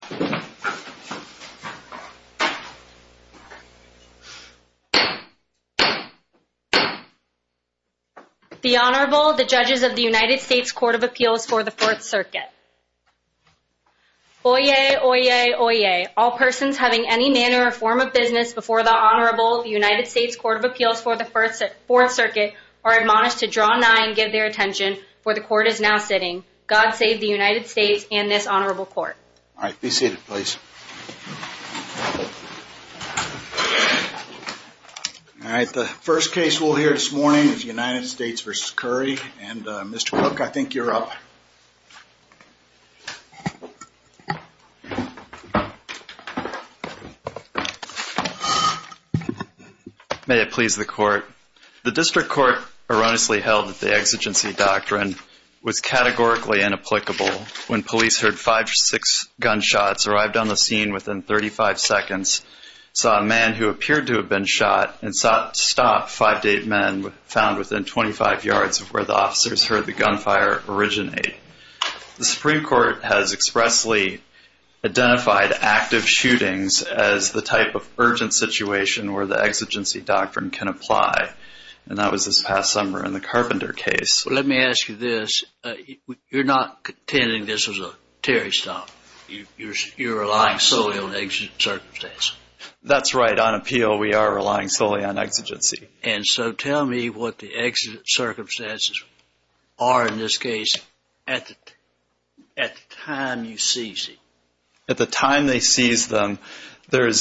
The Honorable, the Judges of the United States Court of Appeals for the Fourth Circuit. Oyez, oyez, oyez. All persons having any manner or form of business before the Honorable of the United States Court of Appeals for the Fourth Circuit are admonished to draw nigh and give their attention, for the Court is now sitting. God save the United States and this Honorable Court. All right, be seated, please. All right, the first case we'll hear this morning is United States v. Curry, and Mr. Cook, I think you're up. May it please the Court. The District Court erroneously held that the exigency doctrine was categorically inapplicable when police heard five or six gunshots arrived on the scene within thirty-five seconds, saw a man who appeared to have been shot, and sought to stop five date men found within twenty-five yards of where the officers heard the gunfire originate. The Supreme Court has expressly identified active shootings as the type of urgent situation where the exigency doctrine can apply, and that was this past summer in the Carpenter case. Let me ask you this, you're not contending this was a Terry stop, you're relying solely on exigent circumstances. That's right. On appeal, we are relying solely on exigency. And so tell me what the exigent circumstances are in this case at the time you seize it. At the time they seize them, they're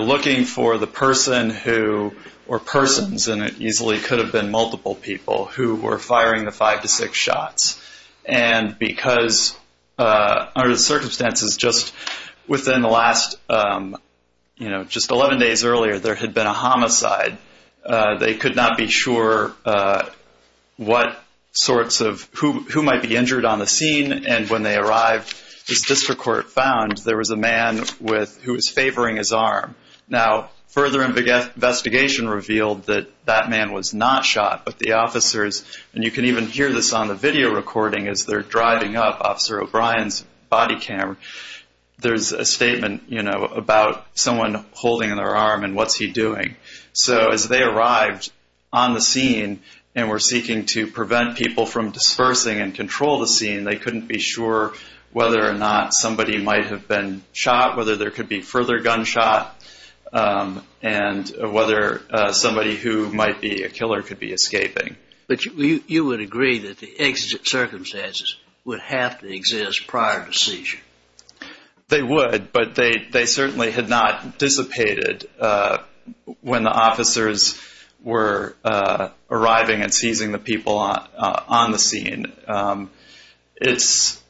looking for the person who, or persons, and it was during the five to six shots, and because under the circumstances, just within the last, you know, just eleven days earlier, there had been a homicide. They could not be sure what sorts of, who might be injured on the scene. And when they arrived, this District Court found there was a man with, who was favoring his arm. Now, further investigation revealed that that man was not shot, but the people who even hear this on the video recording as they're driving up Officer O'Brien's body camera, there's a statement, you know, about someone holding their arm and what's he doing. So as they arrived on the scene and were seeking to prevent people from dispersing and control the scene, they couldn't be sure whether or not somebody might have been shot, whether there could be further gunshot, and whether somebody who might be a killer could be escaping. But you would agree that the exigent circumstances would have to exist prior to the seizure? They would, but they certainly had not dissipated when the officers were arriving and seizing the people on the scene. It's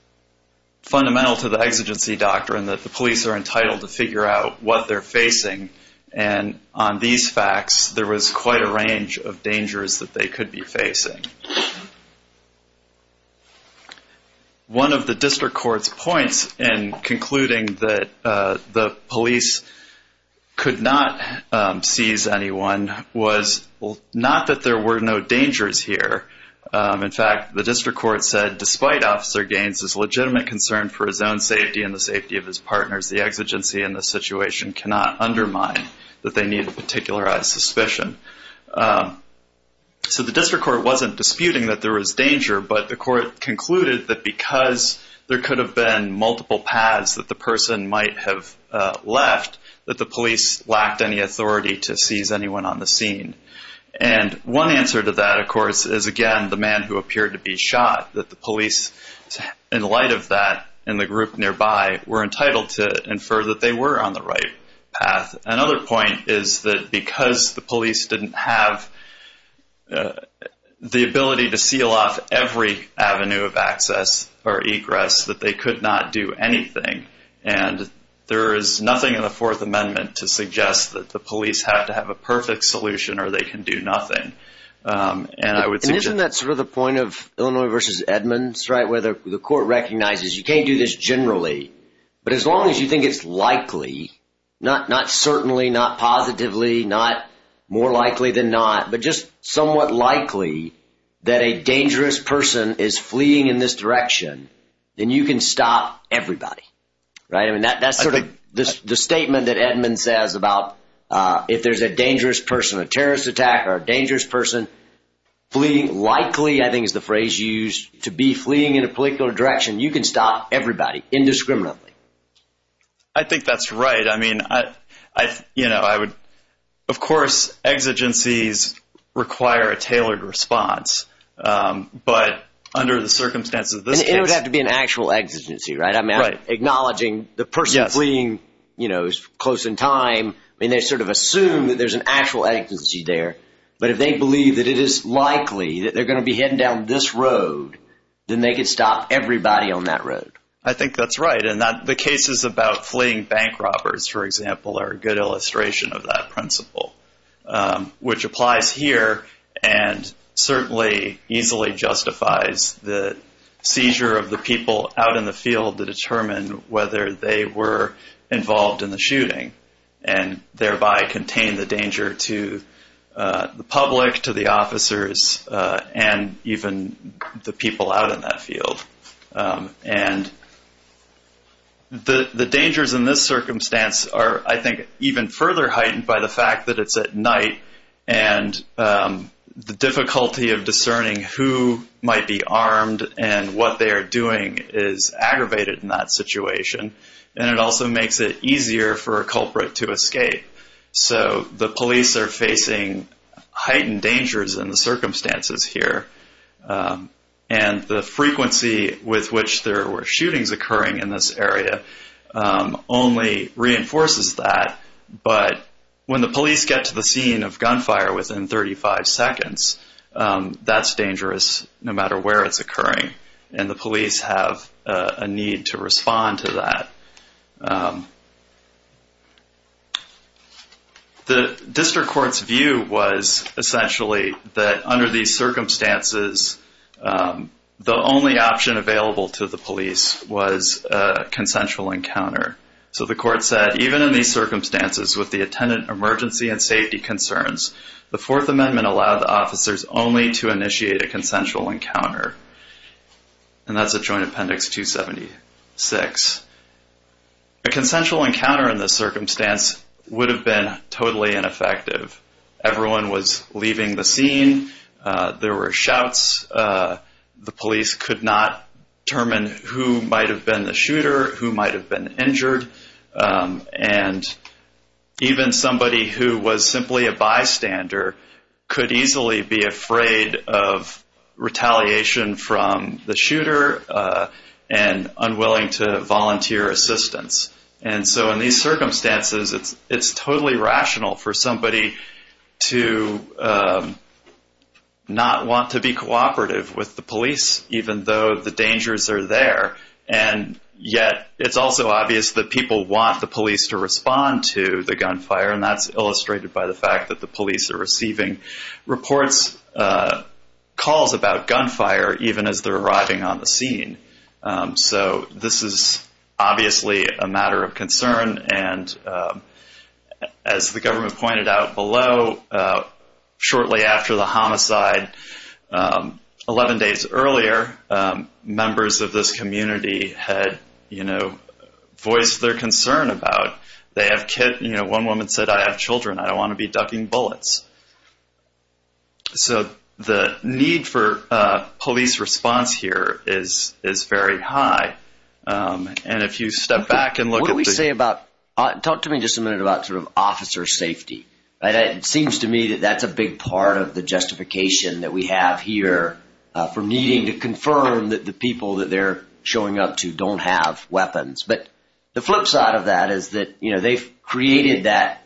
fundamental to the exigency doctrine that the police are entitled to figure out what they're facing. And on these facts, there was quite a range of dangers that they could be facing. One of the District Court's points in concluding that the police could not seize anyone was not that there were no dangers here. In fact, the District Court said, despite Officer Gaines's legitimate concern for his own situation, cannot undermine that they need a particularized suspicion. So the District Court wasn't disputing that there was danger, but the court concluded that because there could have been multiple paths that the person might have left, that the police lacked any authority to seize anyone on the scene. And one answer to that, of course, is, again, the man who appeared to be shot, that the police, in light of that and the group nearby, were entitled to infer that they were on the right path. Another point is that because the police didn't have the ability to seal off every avenue of access or egress, that they could not do anything. And there is nothing in the Fourth Amendment to suggest that the police have to have a perfect solution or they can do nothing. And isn't that sort of the point of Illinois v. Edmonds, right, where the court recognizes you can't do this generally, but as long as you think it's likely, not certainly, not positively, not more likely than not, but just somewhat likely that a dangerous person is fleeing in this direction, then you can stop everybody, right? I mean, that's sort of the statement that Edmonds says about if there's a dangerous person, a terrorist attack or a dangerous person fleeing, likely, I think is the phrase used, to be fleeing in a particular direction, you can stop everybody indiscriminately. I think that's right. I mean, I, you know, I would, of course, exigencies require a tailored response. But under the circumstances, it would have to be an actual exigency, right? I'm acknowledging the person fleeing, you know, is close in time. I mean, they sort of assume that there's an actual exigency there. But if they believe that it is likely that they're going to be heading down this road, then they could stop everybody on that road. I think that's right. And the cases about fleeing bank robbers, for example, are a good illustration of that principle, which applies here and certainly easily justifies the seizure of the people out in the field to determine whether they were involved in the shooting and thereby contain the danger to the public, to the officers and even the people out in that area. The dangers in this circumstance are, I think, even further heightened by the fact that it's at night and the difficulty of discerning who might be armed and what they are doing is aggravated in that situation. And it also makes it easier for a culprit to escape. So the police are facing heightened dangers in the circumstances here. And the frequency with which there were shootings occurring in this area only reinforces that. But when the police get to the scene of gunfire within 35 seconds, that's dangerous no matter where it's occurring. And the police have a need to respond to that. The district court's view was essentially that under these circumstances, the only option available to the police was a consensual encounter. So the court said, even in these circumstances with the attendant emergency and safety concerns, the Fourth Amendment allowed the officers only to initiate a consensual encounter. And that's a Joint Appendix 276. A consensual encounter in this circumstance would have been totally ineffective. Everyone was leaving the scene. There were shouts. The police could not determine who might have been the shooter, who might have been injured. And even somebody who was simply a bystander could easily be afraid of retaliation from the shooter and unwilling to volunteer assistance. And so in these circumstances, it's totally rational for somebody to not want to be cooperative with the police, even though the dangers are there. And yet it's also obvious that people want the police to respond to the gunfire. And that's illustrated by the fact that the police are receiving reports, calls about gunfire, even as they're arriving on the scene. So this is obviously a matter of concern. And as the government pointed out below, shortly after the homicide, 11 days earlier, members of this community had, you know, voiced their concern about they have kids. You know, one woman said, I have children. I don't want to be ducking bullets. So the need for police response here is is very high. And if you step back and look at what we say about, talk to me just a minute about sort of officer safety. And it seems to me that that's a big part of the justification that we have here for needing to confirm that the people that they're showing up to don't have weapons. But the flip side of that is that, you know, they've created that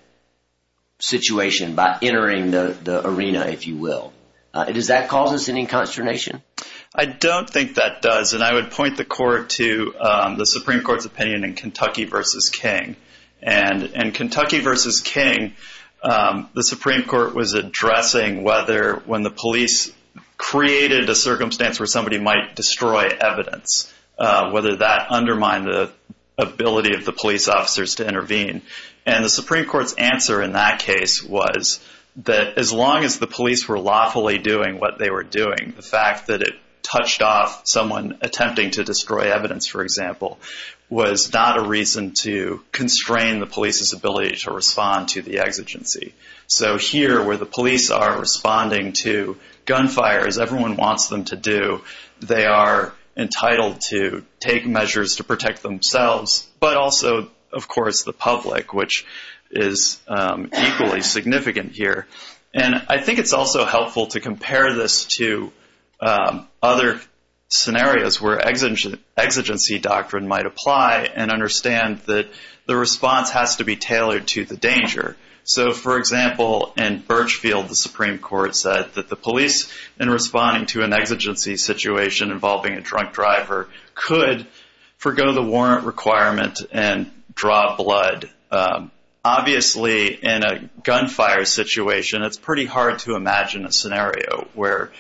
situation by entering the arena, if you will. Does that cause us any consternation? I don't think that does. And I would point the court to the Supreme Court's opinion in Kentucky versus King. And in Kentucky versus King, the Supreme Court was addressing whether when the police created a circumstance where somebody might destroy evidence, whether that undermined ability of the police officers to intervene. And the Supreme Court's answer in that case was that as long as the police were lawfully doing what they were doing, the fact that it touched off someone attempting to destroy evidence, for example, was not a reason to constrain the police's ability to respond to the exigency. So here where the police are responding to gunfire, as everyone wants them to themselves, but also, of course, the public, which is equally significant here. And I think it's also helpful to compare this to other scenarios where exigency doctrine might apply and understand that the response has to be tailored to the danger. So, for example, in Birchfield, the Supreme Court said that the police, in responding to an warrant requirement and draw blood, obviously in a gunfire situation, it's pretty hard to imagine a scenario where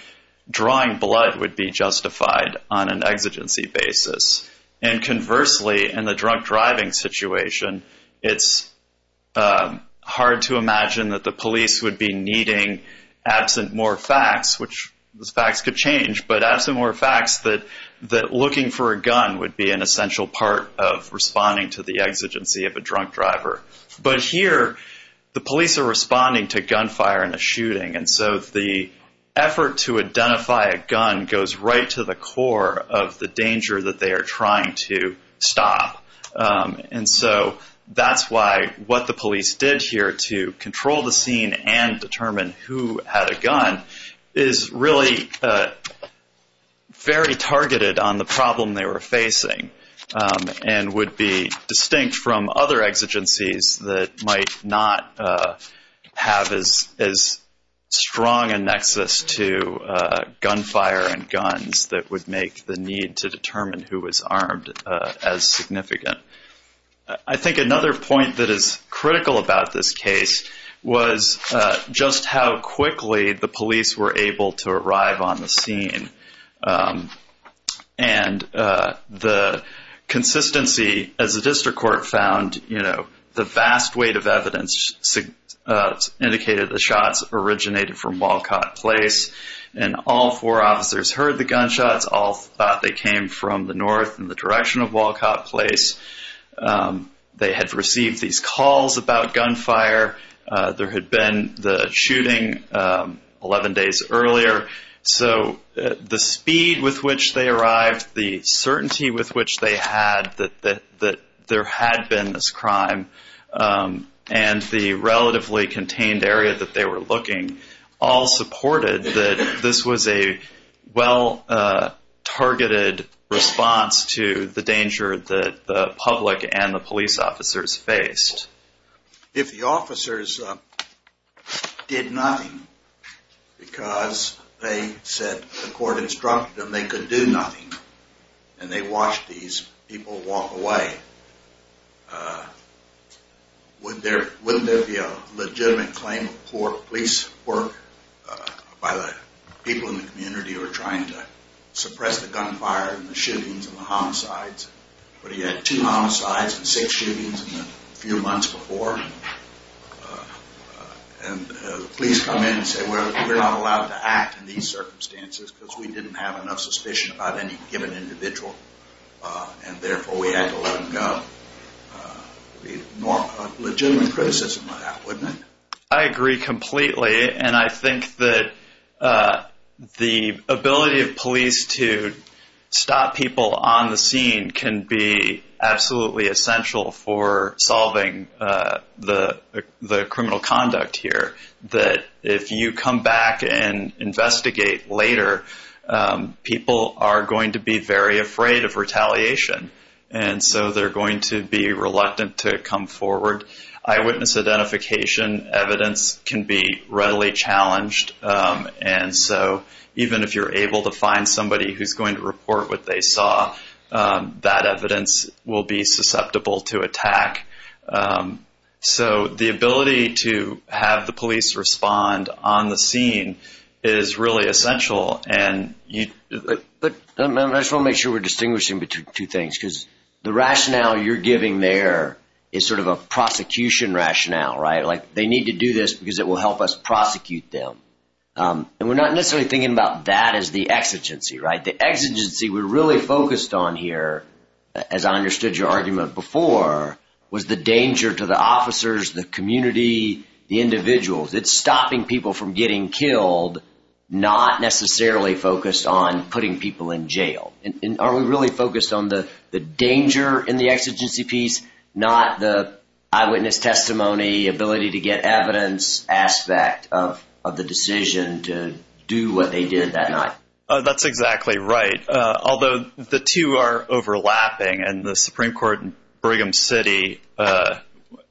drawing blood would be justified on an exigency basis. And conversely, in the drunk driving situation, it's hard to imagine that the police would be needing, absent more facts, which those facts could change, but absent more facts that looking for a gun would be an essential part of responding to the exigency of a drunk driver. But here, the police are responding to gunfire in a shooting. And so the effort to identify a gun goes right to the core of the danger that they are trying to stop. And so that's why what the police did here to control the scene and determine who had a targeted on the problem they were facing and would be distinct from other exigencies that might not have as strong a nexus to gunfire and guns that would make the need to determine who was armed as significant. I think another point that is critical about this case was just how quickly the police were able to arrive on the scene and the consistency as the district court found, you know, the vast weight of evidence indicated the shots originated from Walcott Place and all four officers heard the gunshots, all thought they came from the north in the direction of Walcott Place. They had received these calls about gunfire. There had been the shooting 11 days earlier. So the speed with which they arrived, the certainty with which they had that there had been this crime and the relatively contained area that they were looking, all supported that this was a well-targeted response to the danger that the public and the police officers faced. If the officers did nothing because they said the court instructed them they could do nothing and they watched these people walk away, would there be a legitimate claim of poor police work by the people in the community who are trying to suppress the gunfire and the police come in and say we're not allowed to act in these circumstances because we didn't have enough suspicion about any given individual and therefore we had to let them go? Legitimate criticism of that, wouldn't it? I agree completely. And I think that the ability of police to stop people on the scene can be absolutely essential for solving the criminal conduct here. That if you come back and investigate later, people are going to be very afraid of retaliation. And so they're going to be reluctant to come forward. Eyewitness identification evidence can be readily challenged. And so even if you're able to find somebody who's going to report what they saw, that evidence will be susceptible to attack. So the ability to have the police respond on the scene is really essential. And I just want to make sure we're distinguishing between two things, because the rationale you're giving there is sort of a prosecution rationale, right? Like they need to do this because it will help us prosecute them. And we're not necessarily thinking about that as the exigency, right? The exigency we're really focused on here, as I understood your argument before, was the danger to the officers, the community, the individuals. It's stopping people from getting killed, not necessarily focused on putting people in jail. And are we really focused on the danger in the exigency piece, not the eyewitness testimony, ability to get evidence aspect of the decision to do what they did that night? That's exactly right. Although the two are overlapping and the Supreme Court in Brigham City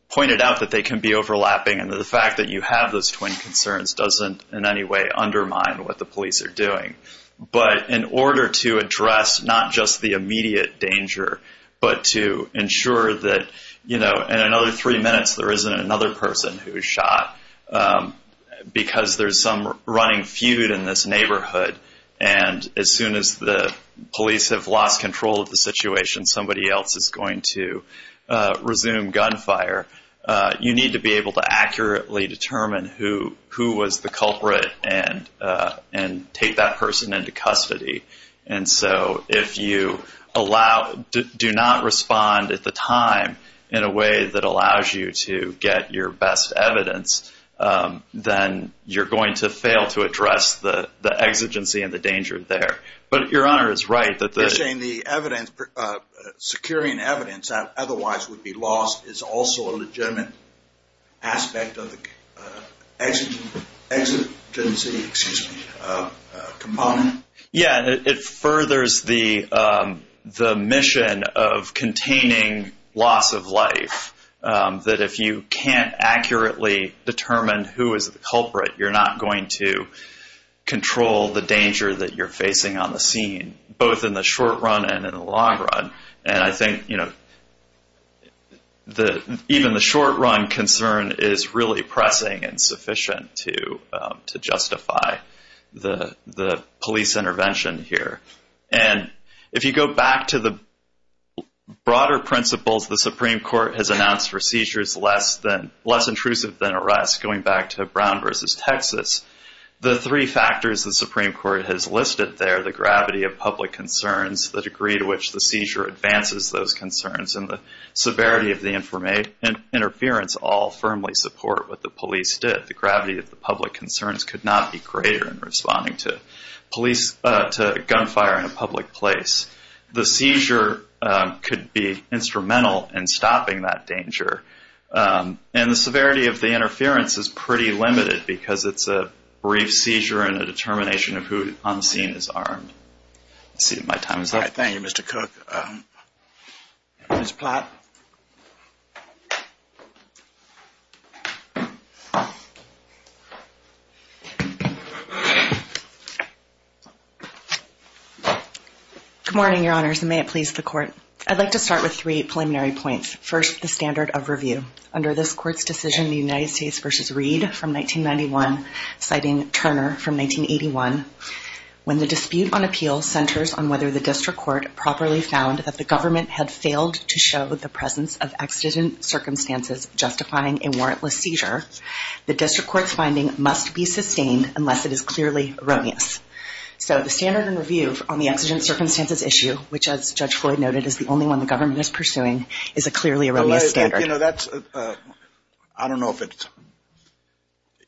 pointed out that they can be overlapping. And the fact that you have those twin concerns doesn't in any way undermine what the police are doing. But in order to address not just the immediate danger, but to ensure that, you know, in another three minutes there isn't another person who was shot because there's some running feud in this neighborhood. And as soon as the police have lost control of the situation, somebody else is going to resume gunfire. You need to be able to accurately determine who was the culprit and take that person into custody. And so if you do not respond at the time in a way that allows you to get your best evidence, then you're going to fail to address the exigency and the danger there. But Your Honor is right that the... You're saying the evidence, securing evidence that otherwise would be lost is also a legitimate aspect of the exigency, excuse me, component? Yeah, it furthers the mission of containing loss of life, that if you can't accurately determine who is the culprit, you're not going to control the danger that you're facing on the scene, both in the short run and in the long run. And I think, you know, even the short run concern is really pressing and sufficient to the police intervention here. And if you go back to the broader principles the Supreme Court has announced for seizures less intrusive than arrests, going back to Brown versus Texas, the three factors the Supreme Court has listed there, the gravity of public concerns, the degree to which the seizure advances those concerns, and the severity of the interference all firmly support what the police did. The gravity of the public concerns could not be greater in responding to police, to gunfire in a public place. The seizure could be instrumental in stopping that danger. And the severity of the interference is pretty limited because it's a brief seizure and a determination of who on the scene is armed. Let's see if my time is up. Thank you, Mr. Cook. Ms. Platt. Good morning, Your Honors, and may it please the Court. I'd like to start with three preliminary points. First, the standard of review. Under this Court's decision, the United States versus Reed from 1991, citing Turner from 1981, when the dispute on appeal centers on whether the district court properly found that the government had failed to show the presence of exigent circumstances justifying a warrantless seizure, the district court's finding must be sustained unless it is clearly erroneous. So the standard and review on the exigent circumstances issue, which, as Judge Floyd noted, is the only one the government is pursuing, is a clearly erroneous standard. You know, that's I don't know if it's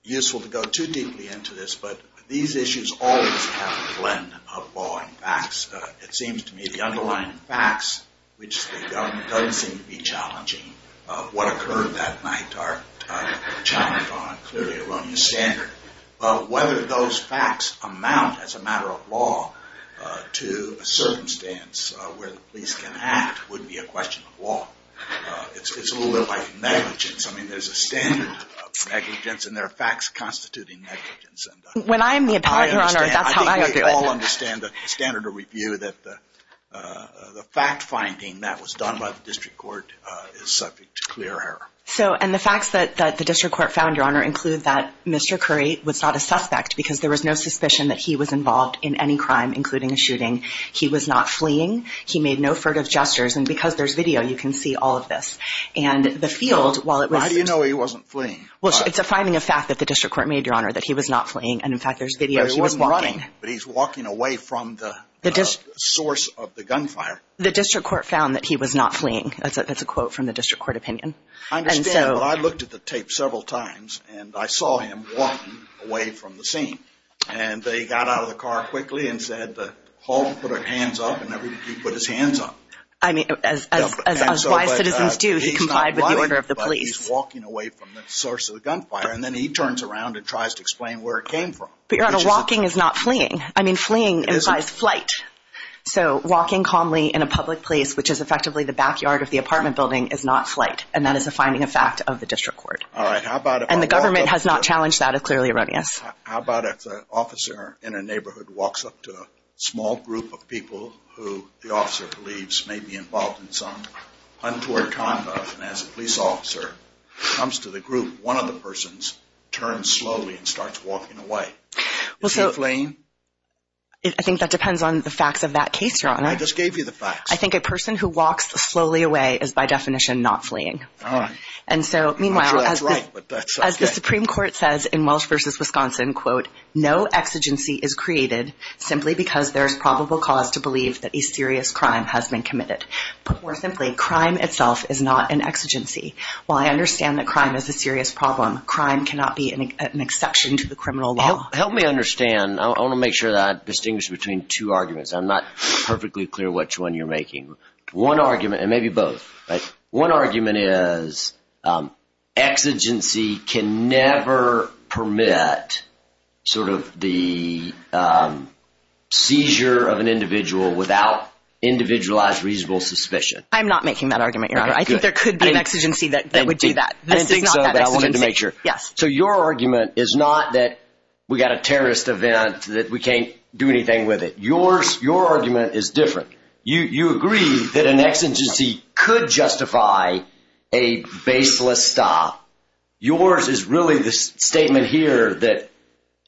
useful to go too deeply into this, but these issues always have a blend of law and facts. It seems to me the underlying facts, which the government doesn't seem to be challenging what occurred that night, are challenged on a clearly erroneous standard. Whether those facts amount, as a matter of law, to a circumstance where the police can act would be a question of law. It's a little bit like negligence. I mean, there's a standard of negligence and there are facts constituting negligence. When I'm the appellate, Your Honor, that's how I go through it. I think we all understand the standard of review that the fact finding that was done by the district court is subject to clear error. So, and the facts that the district court found, Your Honor, include that Mr. Curry was not a suspect because there was no suspicion that he was involved in any crime, including a shooting. He was not fleeing. He made no furtive gestures. And because there's video, you can see all of this. And the field, while it was... Why do you know he wasn't fleeing? Well, it's a finding of fact that the district court made, Your Honor, that he was not fleeing. And in fact, there's video. He wasn't running, but he's walking away from the source of the gunfire. The district court found that he was not fleeing. That's a quote from the district court opinion. I understand, but I looked at the tape several times and I saw him walking away from the scene. And they got out of the car quickly and said, hold, put your hands up. And he put his hands up. I mean, as wise citizens do, he complied with the order of the police. He's not running, but he's walking away from the source of the gunfire. And then he turns around and tries to explain where it came from. But, Your Honor, walking is not fleeing. I mean, fleeing implies flight. So walking calmly in a public place, which is effectively the backyard of the apartment building, is not flight. And that is a finding of fact of the district court. All right. How about if... And the government has not challenged that. It's clearly erroneous. How about if an officer in a neighborhood walks up to a small group of people who the officer believes may be involved in some untoward conduct, and as a police officer comes to the group, one of the persons turns slowly and starts walking away. Is he fleeing? I think that depends on the facts of that case, Your Honor. I just gave you the facts. I think a person who walks slowly away is, by definition, not fleeing. And so, meanwhile, as the Supreme Court says in Welsh v. Wisconsin, quote, no exigency is created simply because there is probable cause to believe that a serious crime has been committed. Put more simply, crime itself is not an exigency. While I understand that crime is a serious problem, crime cannot be an exception to the criminal law. Help me understand. I want to make sure that I distinguish between two arguments. I'm not perfectly clear which one you're making. One argument, and maybe both, but one argument is exigency can never permit sort of the seizure of an individual without individualized reasonable suspicion. I'm not making that argument, Your Honor. I think there could be an exigency that would do that. This is not that exigency. Yes. So your argument is not that we got a terrorist event, that we can't do anything with it. Your argument is different. You agree that an exigency could justify a baseless stop. Yours is really this statement here that,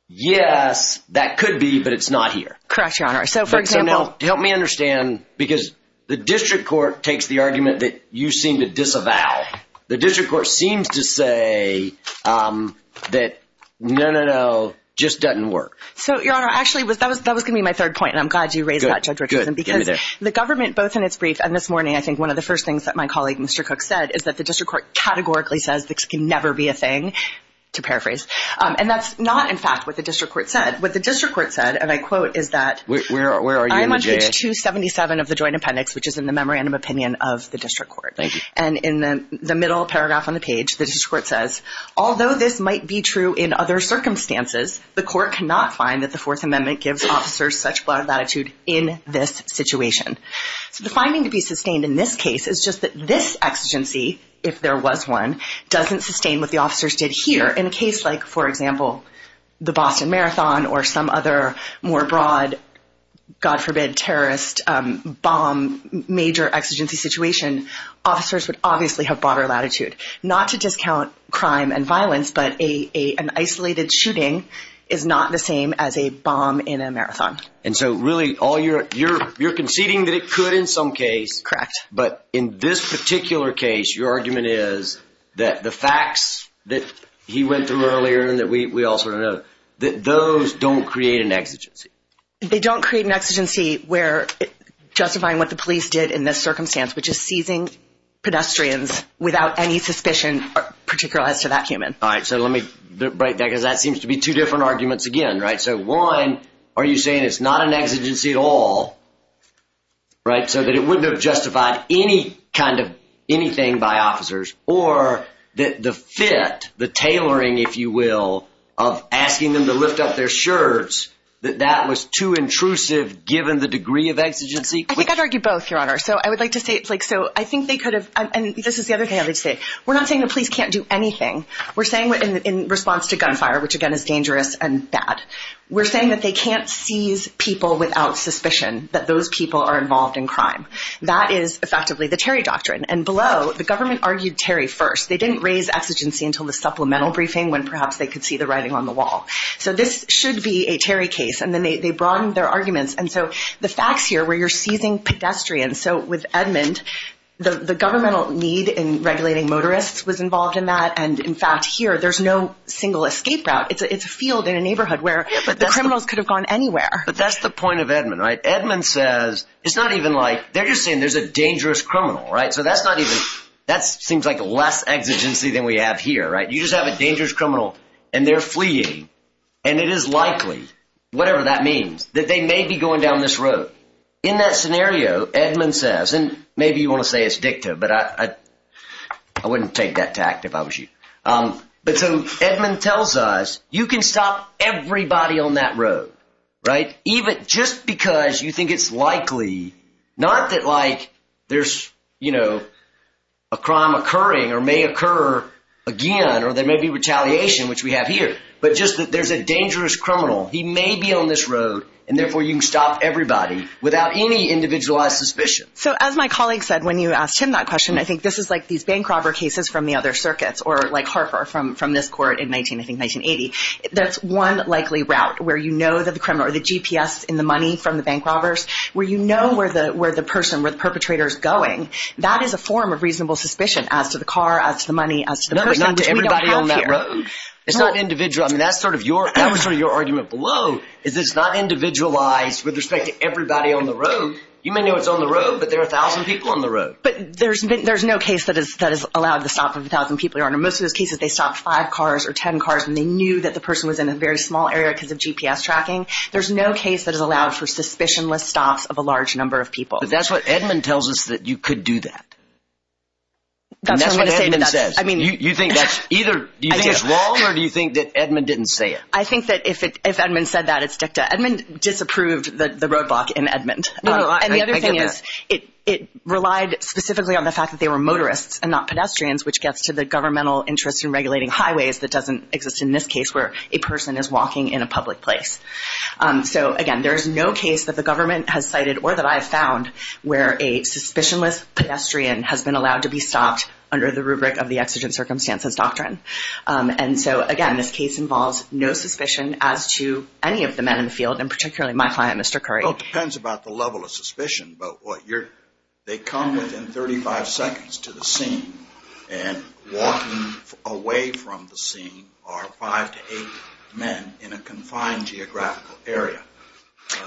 yes, that could be, but it's not here. Correct, Your Honor. So, for example. Help me understand, because the district court takes the argument that you seem to disavow. The district court seems to say that, no, no, no, just doesn't work. So, Your Honor, actually, that was going to be my third point, and I'm glad you raised that, Judge Richardson, because the government, both in its brief and this morning, I think one of the first things that my colleague, Mr. Cook, said is that the district court categorically says this can never be a thing, to paraphrase. And that's not, in fact, what the district court said. What the district court said, and I quote, is that I'm on page 277 of the joint appendix, which is in the memorandum opinion of the district court. And in the middle paragraph on the page, the district court says, although this might be true in other circumstances, the court cannot find that the Fourth Amendment gives officers such broad latitude in this situation. So, the finding to be sustained in this case is just that this exigency, if there was one, doesn't sustain what the officers did here. In a case like, for example, the Boston Marathon or some other more broad, God forbid, terrorist bomb, major exigency situation, officers would obviously have broader exigency and violence, but an isolated shooting is not the same as a bomb in a marathon. And so, really, you're conceding that it could in some case. Correct. But in this particular case, your argument is that the facts that he went through earlier and that we all sort of know, that those don't create an exigency. They don't create an exigency where justifying what the police did in this circumstance, which is seizing pedestrians without any suspicion, particular as to that human. All right. So let me break that, because that seems to be two different arguments again, right? So one, are you saying it's not an exigency at all? Right, so that it wouldn't have justified any kind of anything by officers or that the fit, the tailoring, if you will, of asking them to lift up their shirts, that that was too intrusive, given the degree of exigency? I think I'd argue both, Your Honor. So I would like to say it's like, so I think they could have and this is the other thing I would say. We're not saying the police can't do anything. We're saying in response to gunfire, which again is dangerous and bad, we're saying that they can't seize people without suspicion that those people are involved in crime. That is effectively the Terry doctrine. And below, the government argued Terry first. They didn't raise exigency until the supplemental briefing when perhaps they could see the writing on the wall. So this should be a Terry case. And then they broadened their arguments. And so the facts here where you're seizing pedestrians. And so with Edmond, the governmental need in regulating motorists was involved in that. And in fact, here, there's no single escape route. It's a field in a neighborhood where the criminals could have gone anywhere. But that's the point of Edmond, right? Edmond says it's not even like they're just saying there's a dangerous criminal. Right. So that's not even that seems like less exigency than we have here. Right. You just have a dangerous criminal and they're fleeing. And it is likely, whatever that means, that they may be going down this road. In that scenario, Edmond says, and maybe you want to say it's dicta, but I wouldn't take that tact if I was you. But Edmond tells us you can stop everybody on that road. Right. Even just because you think it's likely not that like there's, you know, a crime occurring or may occur again or there may be retaliation, which we have here. But just that there's a dangerous criminal. He may be on this road and therefore you can stop everybody without any individualized suspicion. So as my colleague said, when you asked him that question, I think this is like these bank robber cases from the other circuits or like Harper from from this court in 19, I think, 1980. That's one likely route where, you know, that the criminal or the GPS in the money from the bank robbers, where, you know, where the where the person with perpetrators going, that is a form of reasonable suspicion as to the car, as the money, as not to everybody on that road. It's not individual. I mean, that's sort of your that was sort of your argument below is it's not individualized with respect to everybody on the road. You may know it's on the road, but there are a thousand people on the road. But there's there's no case that is that is allowed the stop of a thousand people. You are in most of those cases. They stop five cars or 10 cars and they knew that the person was in a very small area because of GPS tracking. There's no case that is allowed for suspicionless stops of a large number of people. That's what Edmond tells us, that you could do that. That's what Edmond says. I mean, you think that's either do you think it's wrong or do you think that Edmond didn't say it? I think that if Edmond said that, it's dicta. Edmond disapproved the roadblock in Edmond. And the other thing is it it relied specifically on the fact that they were motorists and not pedestrians, which gets to the governmental interest in regulating highways that doesn't exist in this case where a person is walking in a public place. So, again, there is no case that the government has cited or that I have found where a suspicionless pedestrian has been allowed to be stopped under the rubric of the incident circumstances doctrine. And so, again, this case involves no suspicion as to any of the men in the field and particularly my client, Mr. Curry. Well, it depends about the level of suspicion, but what you're they come within 35 seconds to the scene and walking away from the scene are five to eight men in a confined geographical area.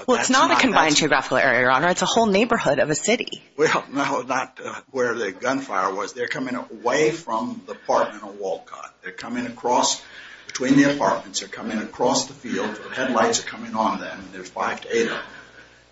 Well, it's not a confined geographical area, Your Honor. It's a whole neighborhood of a city. Well, no, not where the gunfire was. They're coming away from the apartment or Walcott. They're coming across between the apartments. They're coming across the field. The headlights are coming on them. And there's five to eight.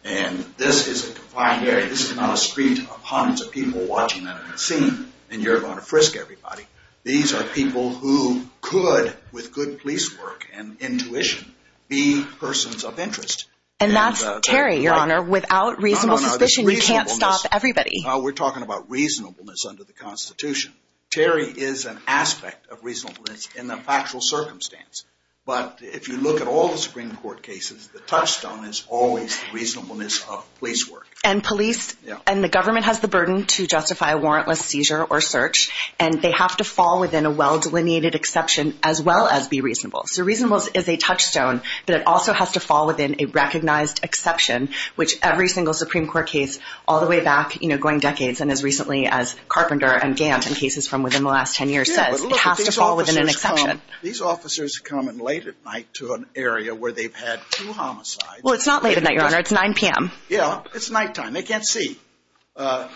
And this is a confined area. This is not a street of hundreds of people watching that scene. And you're going to frisk everybody. These are people who could, with good police work and intuition, be persons of interest. And that's Terry, Your Honor, without reasonable suspicion. You can't stop everybody. We're talking about reasonableness under the Constitution. Terry is an aspect of reasonableness in the factual circumstance. But if you look at all the Supreme Court cases, the touchstone is always reasonableness of police work. And police and the government has the burden to justify a warrantless seizure or search. And they have to fall within a well-delineated exception as well as be reasonable. So reasonableness is a touchstone, but it also has to fall within a all the way back, you know, going decades. And as recently as Carpenter and Gantt and cases from within the last 10 years says, it has to fall within an exception. These officers come in late at night to an area where they've had two homicides. Well, it's not late at night, Your Honor. It's 9 p.m. Yeah, it's nighttime. They can't see. There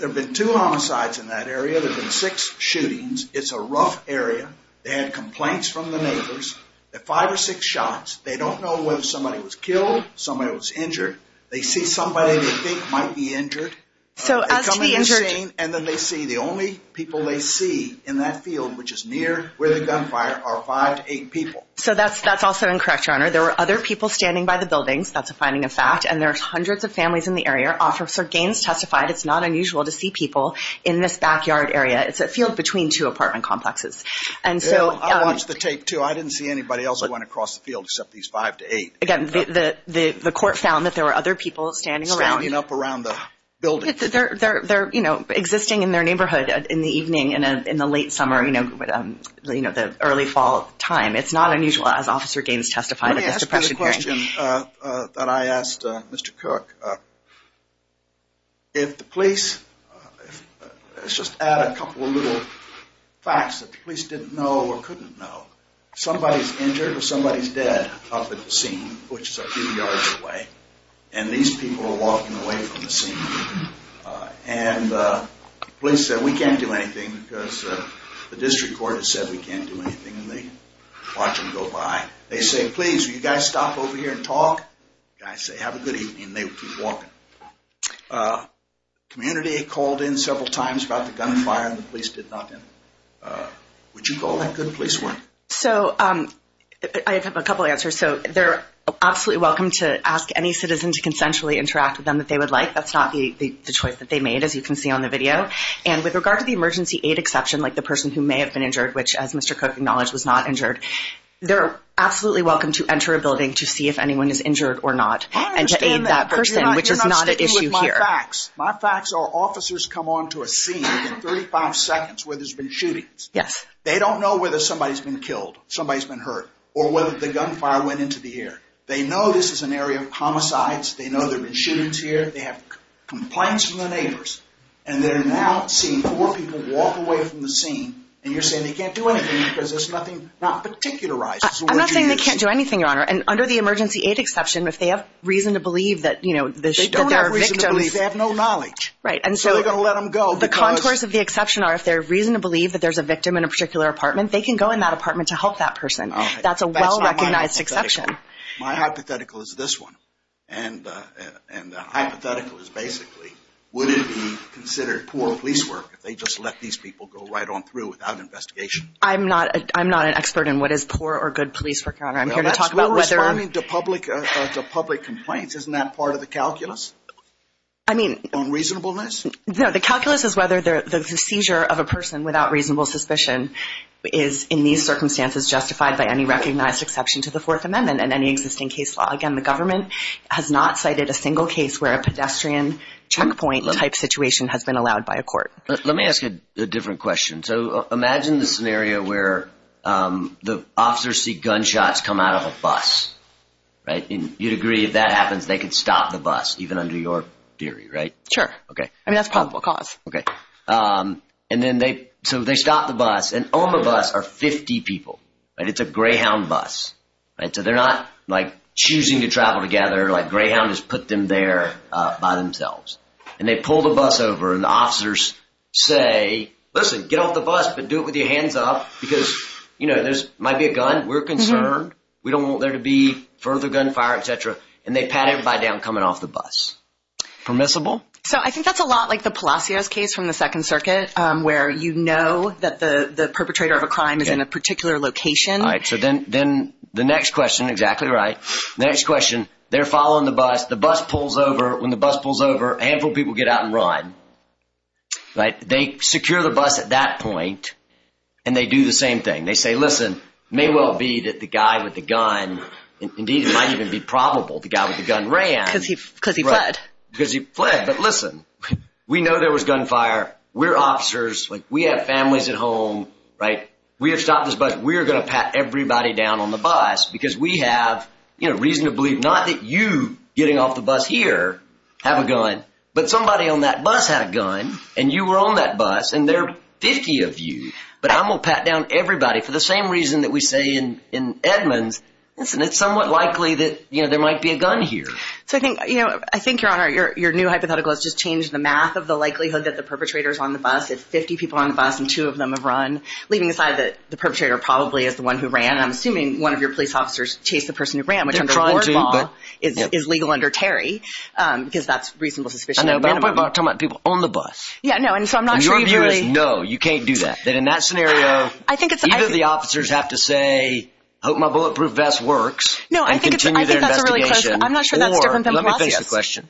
have been two homicides in that area. There have been six shootings. It's a rough area. They had complaints from the neighbors. They had five or six shots. They don't know whether somebody was killed, somebody was injured. They see somebody they think might be injured. So as to be injured. And then they see the only people they see in that field, which is near where the gunfire are, five to eight people. So that's that's also incorrect, Your Honor. There were other people standing by the buildings. That's a finding of fact. And there are hundreds of families in the area. Officer Gaines testified it's not unusual to see people in this backyard area. It's a field between two apartment complexes. And so I watched the tape, too. I didn't see anybody else that went across the field except these five to eight. Again, the court found that there were other people standing around up around the building that they're there, you know, existing in their neighborhood in the evening and in the late summer, you know, the early fall time. It's not unusual, as Officer Gaines testified. Let me ask you a question that I asked Mr. Cook. If the police, let's just add a couple of little facts that the police didn't know or which is a few yards away. And these people are walking away from the scene and the police said we can't do anything because the district court has said we can't do anything. And they watch them go by. They say, please, you guys stop over here and talk. I say, have a good evening. They keep walking. Community called in several times about the gunfire and the police did nothing. Would you call that good police work? So I have a couple of answers. So they're absolutely welcome to ask any citizen to consensually interact with them that they would like. That's not the choice that they made, as you can see on the video. And with regard to the emergency aid exception, like the person who may have been injured, which, as Mr. Cook acknowledged, was not injured, they're absolutely welcome to enter a building to see if anyone is injured or not and to aid that person, which is not an issue here. My facts are officers come onto a scene within 35 seconds where there's been shootings. Yes. They don't know whether somebody's been killed, somebody's been hurt, or whether the gunfire went into the air. They know this is an area of homicides. They know there have been shootings here. They have complaints from the neighbors. And they're now seeing four people walk away from the scene and you're saying they can't do anything because there's nothing not particularized. I'm not saying they can't do anything, Your Honor. And under the emergency aid exception, if they have reason to believe that, you know, they don't have reason to believe, they have no knowledge. Right. And so they're going to let them go. The contours of the exception are if there's reason to believe that there's a victim in a particular apartment, they can go in that apartment to help that person. That's a well-recognized exception. My hypothetical is this one. And the hypothetical is basically, would it be considered poor police work if they just let these people go right on through without investigation? I'm not an expert in what is poor or good police work, Your Honor. I'm here to talk about whether... Well, that's responding to public complaints. Isn't that part of the calculus? I mean... On reasonableness? No, the calculus is whether the seizure of a person without reasonable suspicion is, in these circumstances, justified by any recognized exception to the Fourth Amendment and any existing case law. Again, the government has not cited a single case where a pedestrian checkpoint type situation has been allowed by a court. Let me ask a different question. So imagine the scenario where the officers see gunshots come out of a bus. Right. And you'd agree if that happens, they could stop the bus, even under your theory, right? Sure. Okay. I mean, that's probable cause. Okay. Um, and then they, so they stopped the bus and on the bus are 50 people, right? It's a Greyhound bus, right? So they're not like choosing to travel together. Like Greyhound has put them there, uh, by themselves. And they pull the bus over and the officers say, listen, get off the bus, but do it with your hands up because, you know, there's, might be a gun. We're concerned. We don't want there to be further gunfire, et cetera. And they pat everybody down coming off the bus. Permissible? So I think that's a lot like the Palacios case from the second circuit, um, where you know that the perpetrator of a crime is in a particular location. All right. So then, then the next question, exactly right. The next question, they're following the bus, the bus pulls over. When the bus pulls over, a handful of people get out and run, right? They secure the bus at that point. And they do the same thing. They say, listen, may well be that the guy with the gun, indeed, it might even be probable the guy with the gun ran. Cause he fled. Cause he fled. But listen, we know there was gunfire. We're officers. Like we have families at home, right? We have stopped this bus. We're going to pat everybody down on the bus because we have, you know, reason to believe, not that you getting off the bus here have a gun, but somebody on that bus had a gun and you were on that bus and there are 50 of you, but I'm going to pat down everybody for the same reason that we say in Edmonds, listen, it's somewhat likely that, you know, there might be a gun here. So I think, you know, I think your honor, your, your new hypothetical has just changed the math of the likelihood that the perpetrator's on the bus. It's 50 people on the bus and two of them have run leaving aside that the perpetrator probably is the one who ran. And I'm assuming one of your police officers chase the person who ran, which under court law is legal under Terry. Um, because that's reasonable suspicion. I know, but I'm talking about people on the bus. Yeah, no. And so I'm not sure you really, no, you can't do that. Then in that scenario, I think it's either the officers have to say, hope my bulletproof vest works and continue their investigation. I'm not sure. That's different than last question.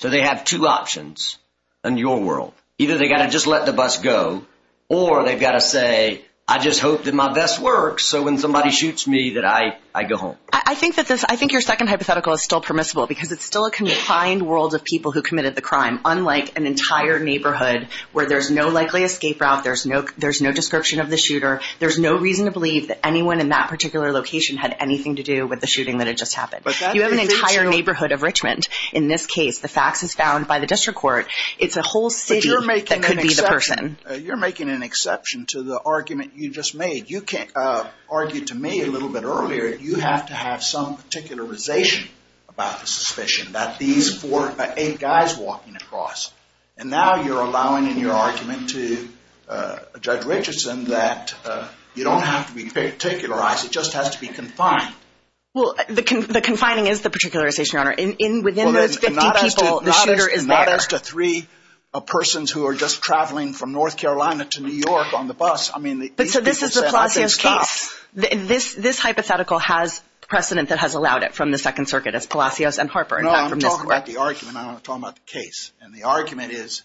So they have two options and your world, either they got to just let the bus go or they've got to say, I just hope that my vest works. So when somebody shoots me that I, I go home. I think that this, I think your second hypothetical is still permissible because it's still a confined world of people who committed the crime. Unlike an entire neighborhood where there's no likely escape route. There's no, there's no description of the shooter. There's no reason to believe that anyone in that particular location had anything to do with the shooting that had just happened. But you have an entire neighborhood of Richmond. In this case, the facts is found by the district court. It's a whole city that could be the person. You're making an exception to the argument you just made. You can't argue to me a little bit earlier. You have to have some particularization about the suspicion that these four, eight guys walking across. And now you're allowing in your argument to judge Richardson that you don't have to be particularized. It just has to be confined. Well, the confining is the particularization, Your Honor. In, within those 50 people, the shooter is there. Not as to three persons who are just traveling from North Carolina to New York on the bus. I mean, these people say, I can't stop. This, this hypothetical has precedent that has allowed it from the second circuit as Palacios and Harper. In fact, from this court. No, I'm talking about the argument. I'm not talking about the case. And the argument is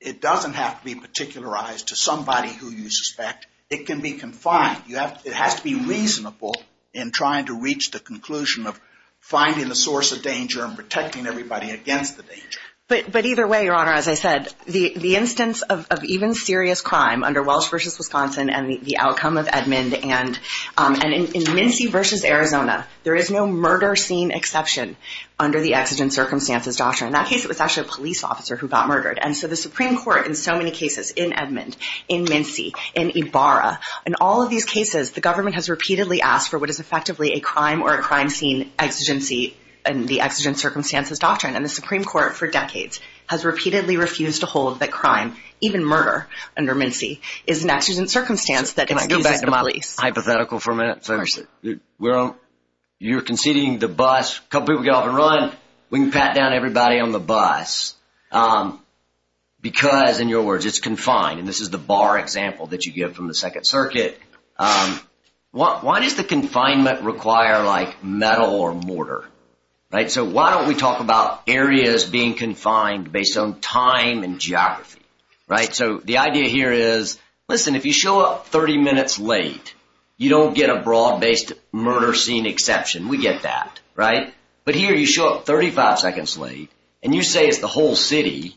it doesn't have to be particularized to somebody who you suspect. It can be confined. You have, it has to be reasonable in trying to reach the conclusion of finding the source of danger and protecting everybody against the danger. But, but either way, Your Honor, as I said, the, the instance of, of even serious crime under Welsh versus Wisconsin and the outcome of Edmond and, um, and in, in Mincy versus Arizona, there is no murder scene exception under the exigent circumstances doctrine. In that case, it was actually a police officer who got murdered. And so the Supreme Court in so many cases in Edmond, in Mincy, in Ibarra, in all of these cases, the government has repeatedly asked for what is effectively a crime or a crime scene exigency and the exigent circumstances doctrine. And the Supreme Court for decades has repeatedly refused to hold that crime, even murder under Mincy is an exigent circumstance that it's used as the police. Hypothetical for a minute. So you're conceding the bus, couple people get off and run. We can pat down everybody on the bus. Um, because in your words, it's confined and this is the bar example that you get from the second circuit. Um, what, why does the confinement require like metal or mortar? Right? So why don't we talk about areas being confined based on time and geography? Right? So the idea here is, listen, if you show up 30 minutes late, you don't get a broad based murder scene exception. We get that, right? But here you show up 35 seconds late and you say it's the whole city,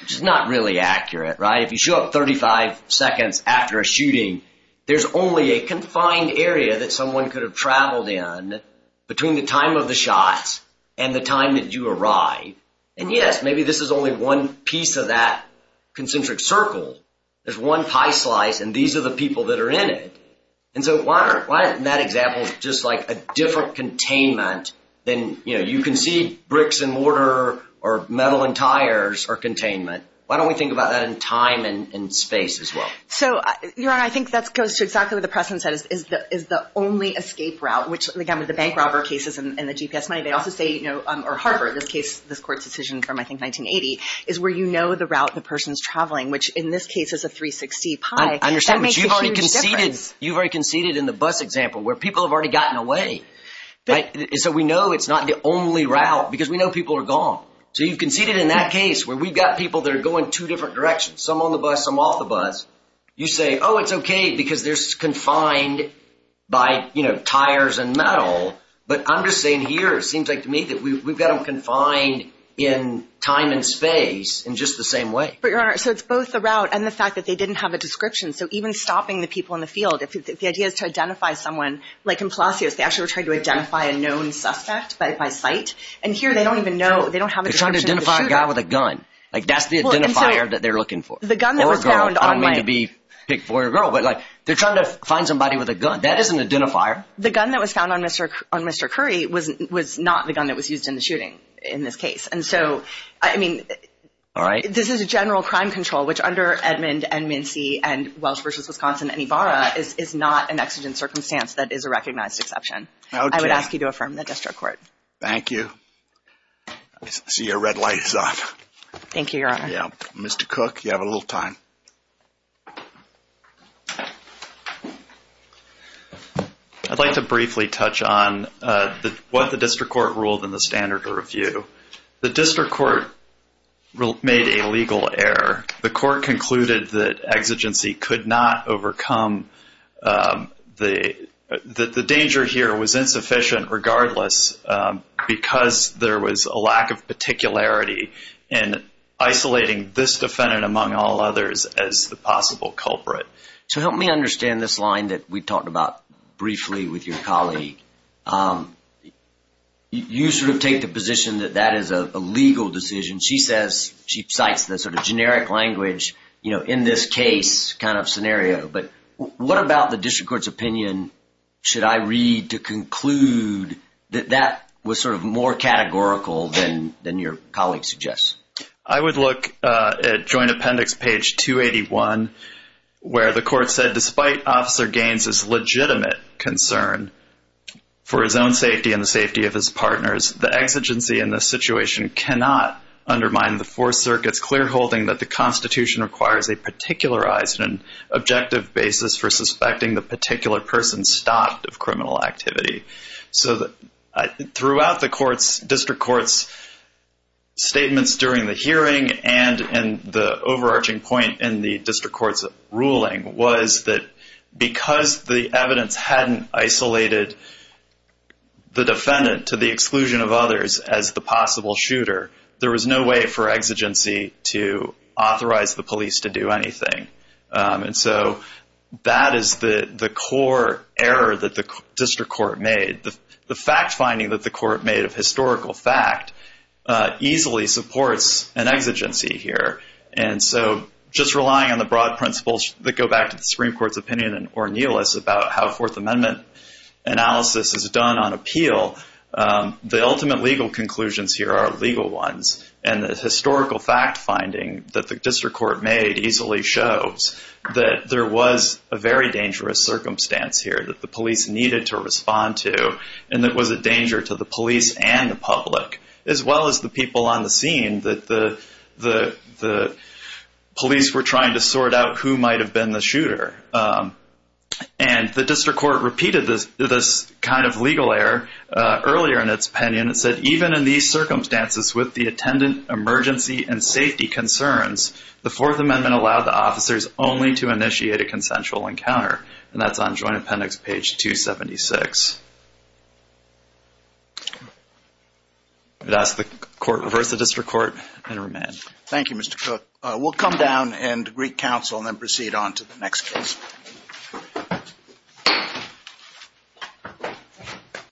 which is not really accurate, right? If you show up 35 seconds after a shooting, there's only a confined area that someone could have traveled in between the time of the shots and the time that you arrive. And yes, maybe this is only one piece of that concentric circle. There's one pie slice and these are the people that are in it. And so why aren't, why isn't that example just like a different containment than, you know, you can see bricks and mortar or metal and tires are containment. Why don't we think about that in time and space as well? So you're right. I think that's goes to exactly what the precedent said is, is the, is the only escape route, which again, with the bank robber cases and the GPS money, they also say, you know, um, or Harvard, this case, this court's decision from, I think 1980 is where, you know, the route, the person's traveling, which in this case is a 360 pie. I understand, but you've already conceded, you've already conceded in the bus example where people have already gotten away. Right. So we know it's not the only route because we know people are gone. So you've conceded in that case where we've got people that are going two different directions, some on the bus, some off the bus, you say, oh, it's okay because there's confined by, you know, tires and metal. But I'm just saying here, it seems like to me that we've got them confined in time and space in just the same way. But your Honor, so it's both the route and the fact that they didn't have a description. So even stopping the people in the field, if the idea is to identify someone like in Palacios, they actually were trying to identify a known suspect by, by sight. And here they don't even know, they don't have a description of the shooter. They're trying to identify a guy with a gun. Like that's the identifier that they're looking for. The gun that was found on my... I don't mean to be picked for a girl, but like they're trying to find somebody with a gun. That is an identifier. The gun that was found on Mr. on Mr. Curry was, was not the gun that was used in the shooting in this case. And so, I mean, this is a general crime control, which under Edmond and Mincy and Welsh versus Wisconsin and Ibarra is, is not an exigent circumstance that is a recognized exception. I would ask you to affirm the district court. Thank you. I see your red light is off. Thank you, your honor. Yeah. Mr. Cook, you have a little time. I'd like to briefly touch on what the district court ruled in the standard of review. The district court made a legal error. The court concluded that exigency could not overcome the, the danger here was insufficient regardless, because there was a lack of particularity in isolating this defendant among all others as the possible culprit. So help me understand this line that we talked about briefly with your colleague. You sort of take the position that that is a legal decision. She says, she cites the sort of generic language, you know, in this case kind of scenario. But what about the district court's opinion? Should I read to conclude that that was sort of more categorical than, than your colleague suggests? I would look at joint appendix page 281, where the court said, despite officer Gaines's legitimate concern for his own safety and the safety of his partners, the exigency in this situation cannot undermine the four circuits clear holding that the basis for suspecting the particular person stopped of criminal activity. So throughout the courts, district courts statements during the hearing and in the overarching point in the district court's ruling was that because the evidence hadn't isolated the defendant to the exclusion of others as the possible shooter, there was no way for exigency to authorize the police to do anything. And so that is the core error that the district court made. The fact finding that the court made of historical fact easily supports an exigency here. And so just relying on the broad principles that go back to the Supreme Court's opinion or Neil's about how Fourth Amendment analysis is done on appeal, the ultimate legal conclusions here are legal ones. And the historical fact finding that the district court made easily shows that there was a very dangerous circumstance here that the police needed to respond to, and that was a danger to the police and the public, as well as the people on the scene that the police were trying to sort out who might have been the shooter. And the district court repeated this kind of legal error earlier in its opinion. It said, even in these circumstances with the attendant emergency and safety concerns, the Fourth Amendment allowed the officers only to initiate a consensual encounter. And that's on Joint Appendix page 276. I'd ask the court to reverse the district court and remain. Thank you, Mr. Cook. We'll come down and greet counsel and then proceed on to the next case.